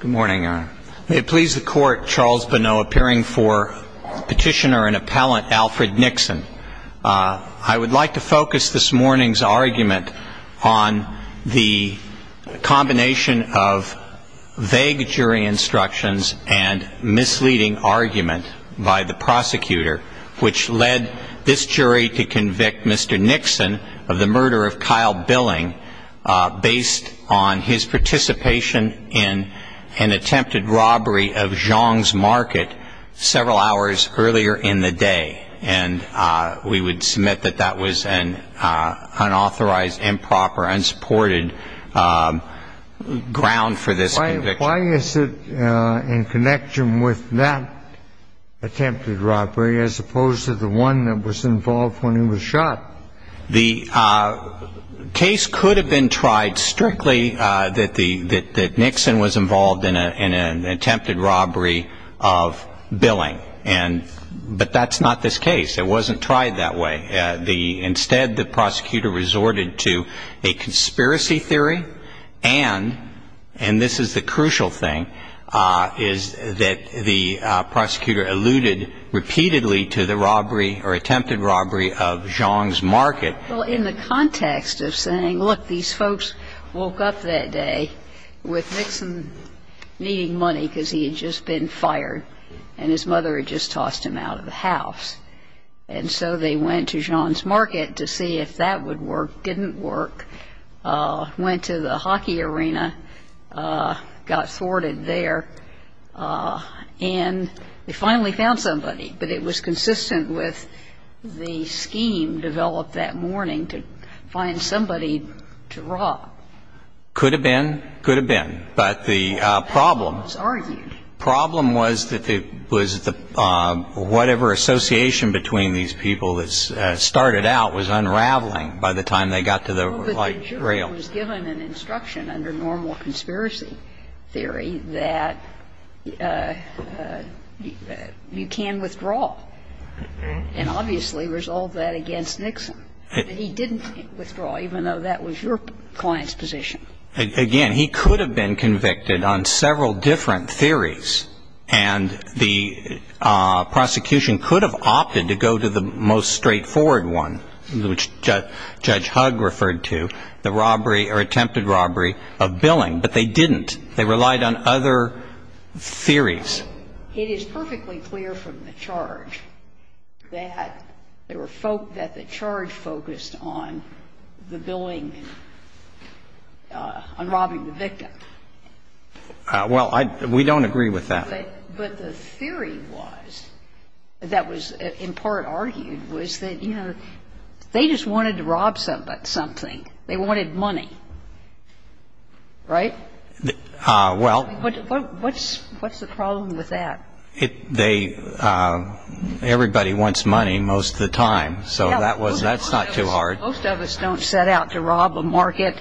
Good morning. May it please the court, Charles Bonneau appearing for Petitioner and Appellant Alfred Nickson. I would like to focus this morning's argument on the combination of vague jury instructions and misleading argument by the prosecutor, which led this jury to convict Mr. Nickson of the murder of Kyle Billing based on his participation in an attempted robbery of Zhang's Market several hours earlier in the day. And we would submit that that was an unauthorized, improper, unsupported ground for this conviction. Why is it in connection with that attempted robbery as opposed to the one that was involved when he was shot? The case could have been tried strictly that the that Nickson was involved in an attempted robbery of Billing. And but that's not this case. It wasn't tried that way. Instead, the prosecutor resorted to a conspiracy theory. And and this is the crucial thing, is that the prosecutor alluded repeatedly to the robbery or attempted robbery of Zhang's Market. Well, in the context of saying, look, these folks woke up that day with Nickson needing money because he had just been fired and his mother had just tossed him out of the house. And so they went to Zhang's Market to see if that would work, didn't work, went to the hockey arena, got thwarted there, and they finally found somebody. But it was consistent with the scheme developed that morning to find somebody to rob. Could have been. Could have been. But the problem was that it was the whatever association between these people that started out was unraveling by the time they got to the light rail. Well, but the jury was given an instruction under normal conspiracy theory that you can withdraw and obviously resolve that against Nickson. But he didn't withdraw, even though that was your client's position. Again, he could have been convicted on several different theories, and the prosecution could have opted to go to the most straightforward one, which Judge Hugg referred to, the robbery or attempted robbery of Billing. But they didn't. They relied on other theories. It is perfectly clear from the charge that the charge focused on the billing and on robbing the victim. Well, we don't agree with that. But the theory was, that was in part argued, was that, you know, they just wanted to rob somebody of something. They wanted money. Right? Well. What's the problem with that? They, everybody wants money most of the time. So that was, that's not too hard. Most of us don't set out to rob a market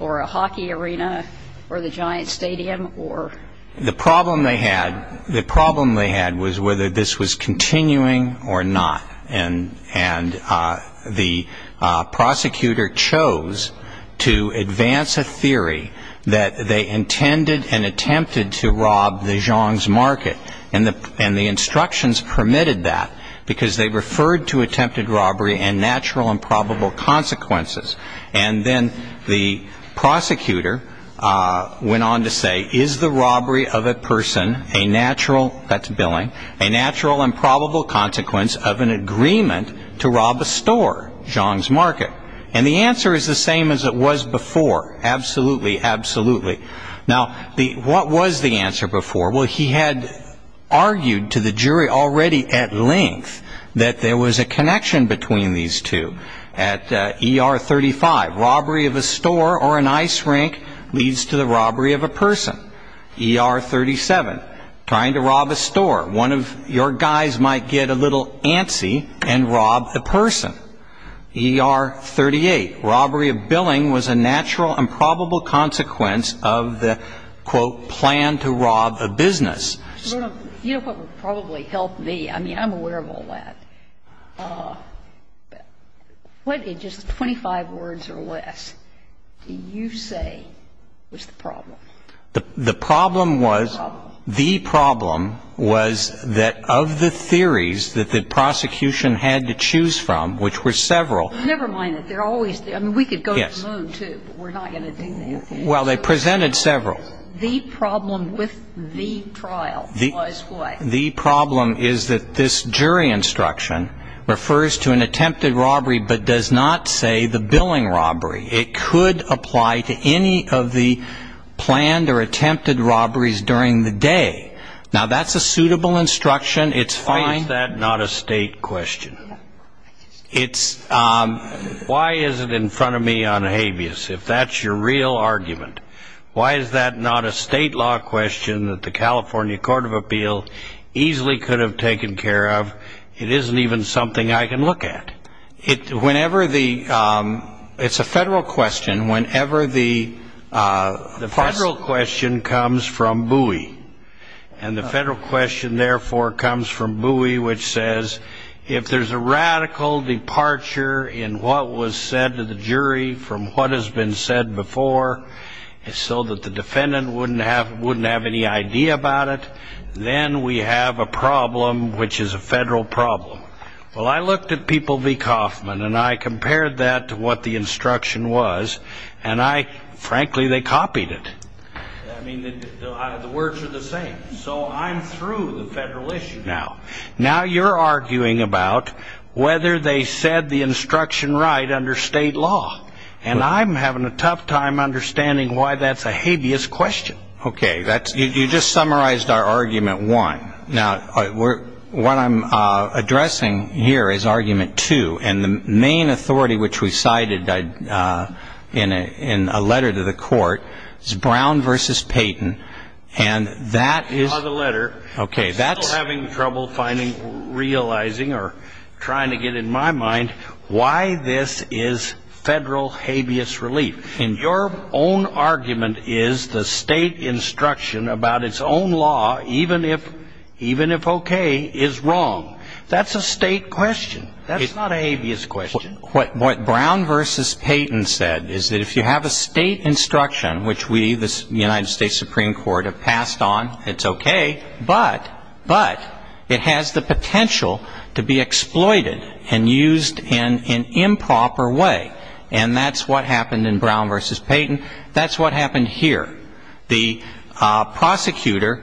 or a hockey arena or the giant stadium or. The problem they had, the problem they had was whether this was continuing or not. And the prosecutor chose to advance a theory that they intended and attempted to rob the Zhang's market. And the instructions permitted that, because they referred to attempted robbery and natural and probable consequences. And then the prosecutor went on to say, is the robbery of a person a natural, that's billing, a natural and probable consequence of an agreement to rob a store, Zhang's market? And the answer is the same as it was before. Absolutely, absolutely. Now, what was the answer before? Well, he had argued to the jury already at length that there was a connection between these two. At ER 35, robbery of a store or an ice rink leads to the robbery of a person. ER 37, trying to rob a store, one of your guys might get a little antsy and rob a person. ER 38, robbery of billing was a natural and probable consequence of the, quote, plan to rob a business. You know what would probably help me? I mean, I'm aware of all that. What in just 25 words or less do you say was the problem? The problem was, the problem was that of the theories that the prosecution had to choose from, which were several. Never mind that. They're always there. I mean, we could go to the moon, too, but we're not going to do that. Well, they presented several. The problem with the trial was what? The problem is that this jury instruction refers to an attempted robbery but does not say the billing robbery. It could apply to any of the planned or attempted robberies during the day. Now, that's a suitable instruction. It's fine. Why is that not a state question? Why is it in front of me on habeas, if that's your real argument? Why is that not a state law question that the California Court of Appeals easily could have taken care of? It isn't even something I can look at. It's a federal question. The federal question comes from Bowie. And the federal question, therefore, comes from Bowie, which says, if there's a radical departure in what was said to the jury from what has been said before so that the defendant wouldn't have any idea about it, then we have a problem which is a federal problem. Well, I looked at People v. Kauffman and I compared that to what the instruction was. And, frankly, they copied it. I mean, the words are the same. So I'm through the federal issue now. Now you're arguing about whether they said the instruction right under state law. And I'm having a tough time understanding why that's a habeas question. Okay. You just summarized our argument one. Now, what I'm addressing here is argument two. And the main authority which we cited in a letter to the court is Brown v. Payton. And that is the letter. Okay. I'm still having trouble finding, realizing, or trying to get in my mind why this is federal habeas relief. And your own argument is the state instruction about its own law, even if okay, is wrong. That's a state question. That's not a habeas question. What Brown v. Payton said is that if you have a state instruction, which we, the United States Supreme Court, have passed on, it's okay. But it has the potential to be exploited and used in an improper way. And that's what happened in Brown v. Payton. That's what happened here. The prosecutor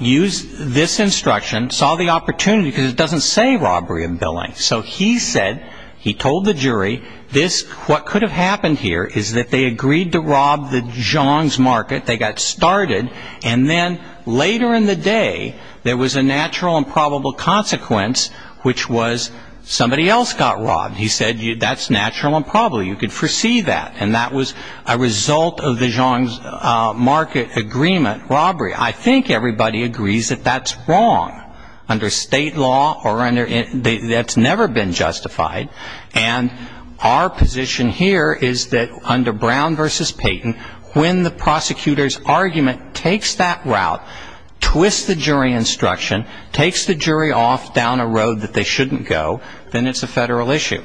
used this instruction, saw the opportunity, because it doesn't say robbery and billing. So he said, he told the jury, this, what could have happened here is that they agreed to rob the Jones Market. They got started. And then later in the day, there was a natural and probable consequence, which was somebody else got robbed. He said, that's natural and probable. You could foresee that. And that was a result of the Jones Market agreement, robbery. I think everybody agrees that that's wrong under state law or under, that's never been justified. And our position here is that under Brown v. Payton, when the prosecutor's argument takes that route, twists the jury instruction, takes the jury off down a road that they shouldn't go, then it's a Federal issue.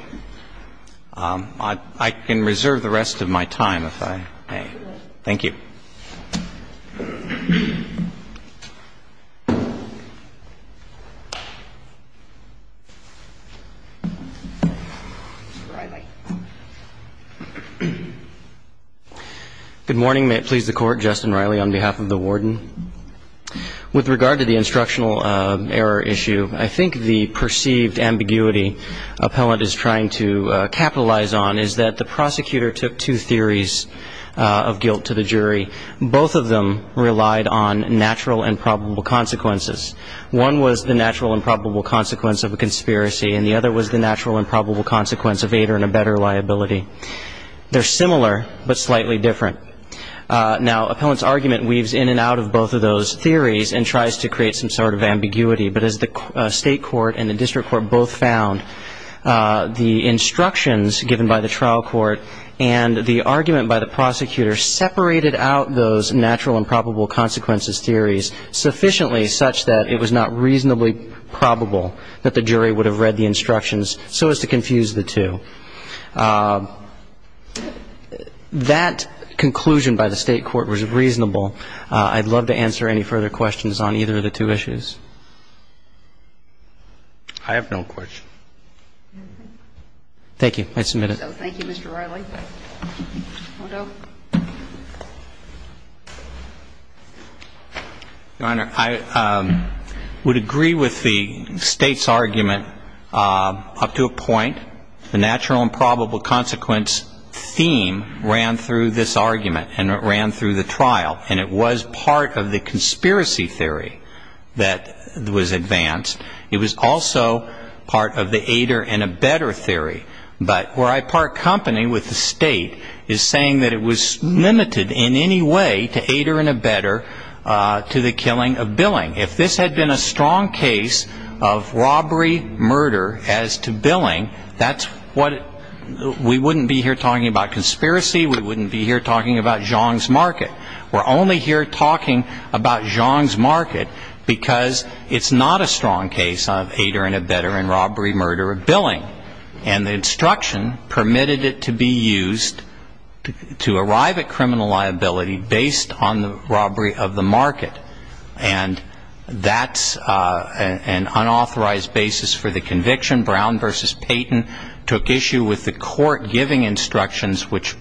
I can reserve the rest of my time if I may. Thank you. Good morning. May it please the Court. Justin Riley on behalf of the Warden. With regard to the instructional error issue, I think the perceived ambiguity appellant is trying to capitalize on is that the prosecutor Both of them relied on natural and probable consequences. One was the natural and probable consequence of a conspiracy. And the other was the natural and probable consequence of aid or in a better liability. They're similar, but slightly different. Now, appellant's argument weaves in and out of both of those theories and tries to create some sort of ambiguity. But as the state court and the district court both found, the instructions given by the trial court and the argument by the prosecutor separated out those natural and probable consequences theories sufficiently such that it was not reasonably probable that the jury would have read the instructions so as to confuse the two. That conclusion by the state court was reasonable. I'd love to answer any further questions on either of the two issues. I have no questions. Thank you. I submit it. So thank you, Mr. Reilly. Odo. Your Honor, I would agree with the State's argument up to a point. The natural and probable consequence theme ran through this argument and it ran through the trial. And it was part of the conspiracy theory that was advanced. It was also part of the aid or in a better theory. But where I part company with the State is saying that it was limited in any way to aid or in a better to the killing of Billing. If this had been a strong case of robbery, murder as to Billing, that's what we wouldn't be here talking about conspiracy. We wouldn't be here talking about Zhang's market. We're only here talking about Zhang's market because it's not a strong case of aid or in a better and robbery, murder or Billing. And the instruction permitted it to be used to arrive at criminal liability based on the robbery of the market. And that's an unauthorized basis for the conviction. Brown v. Payton took issue with the court giving instructions which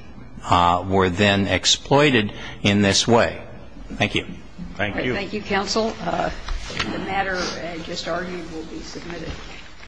were then exploited in this way. Thank you. Thank you. Thank you, counsel. The matter just argued will be submitted.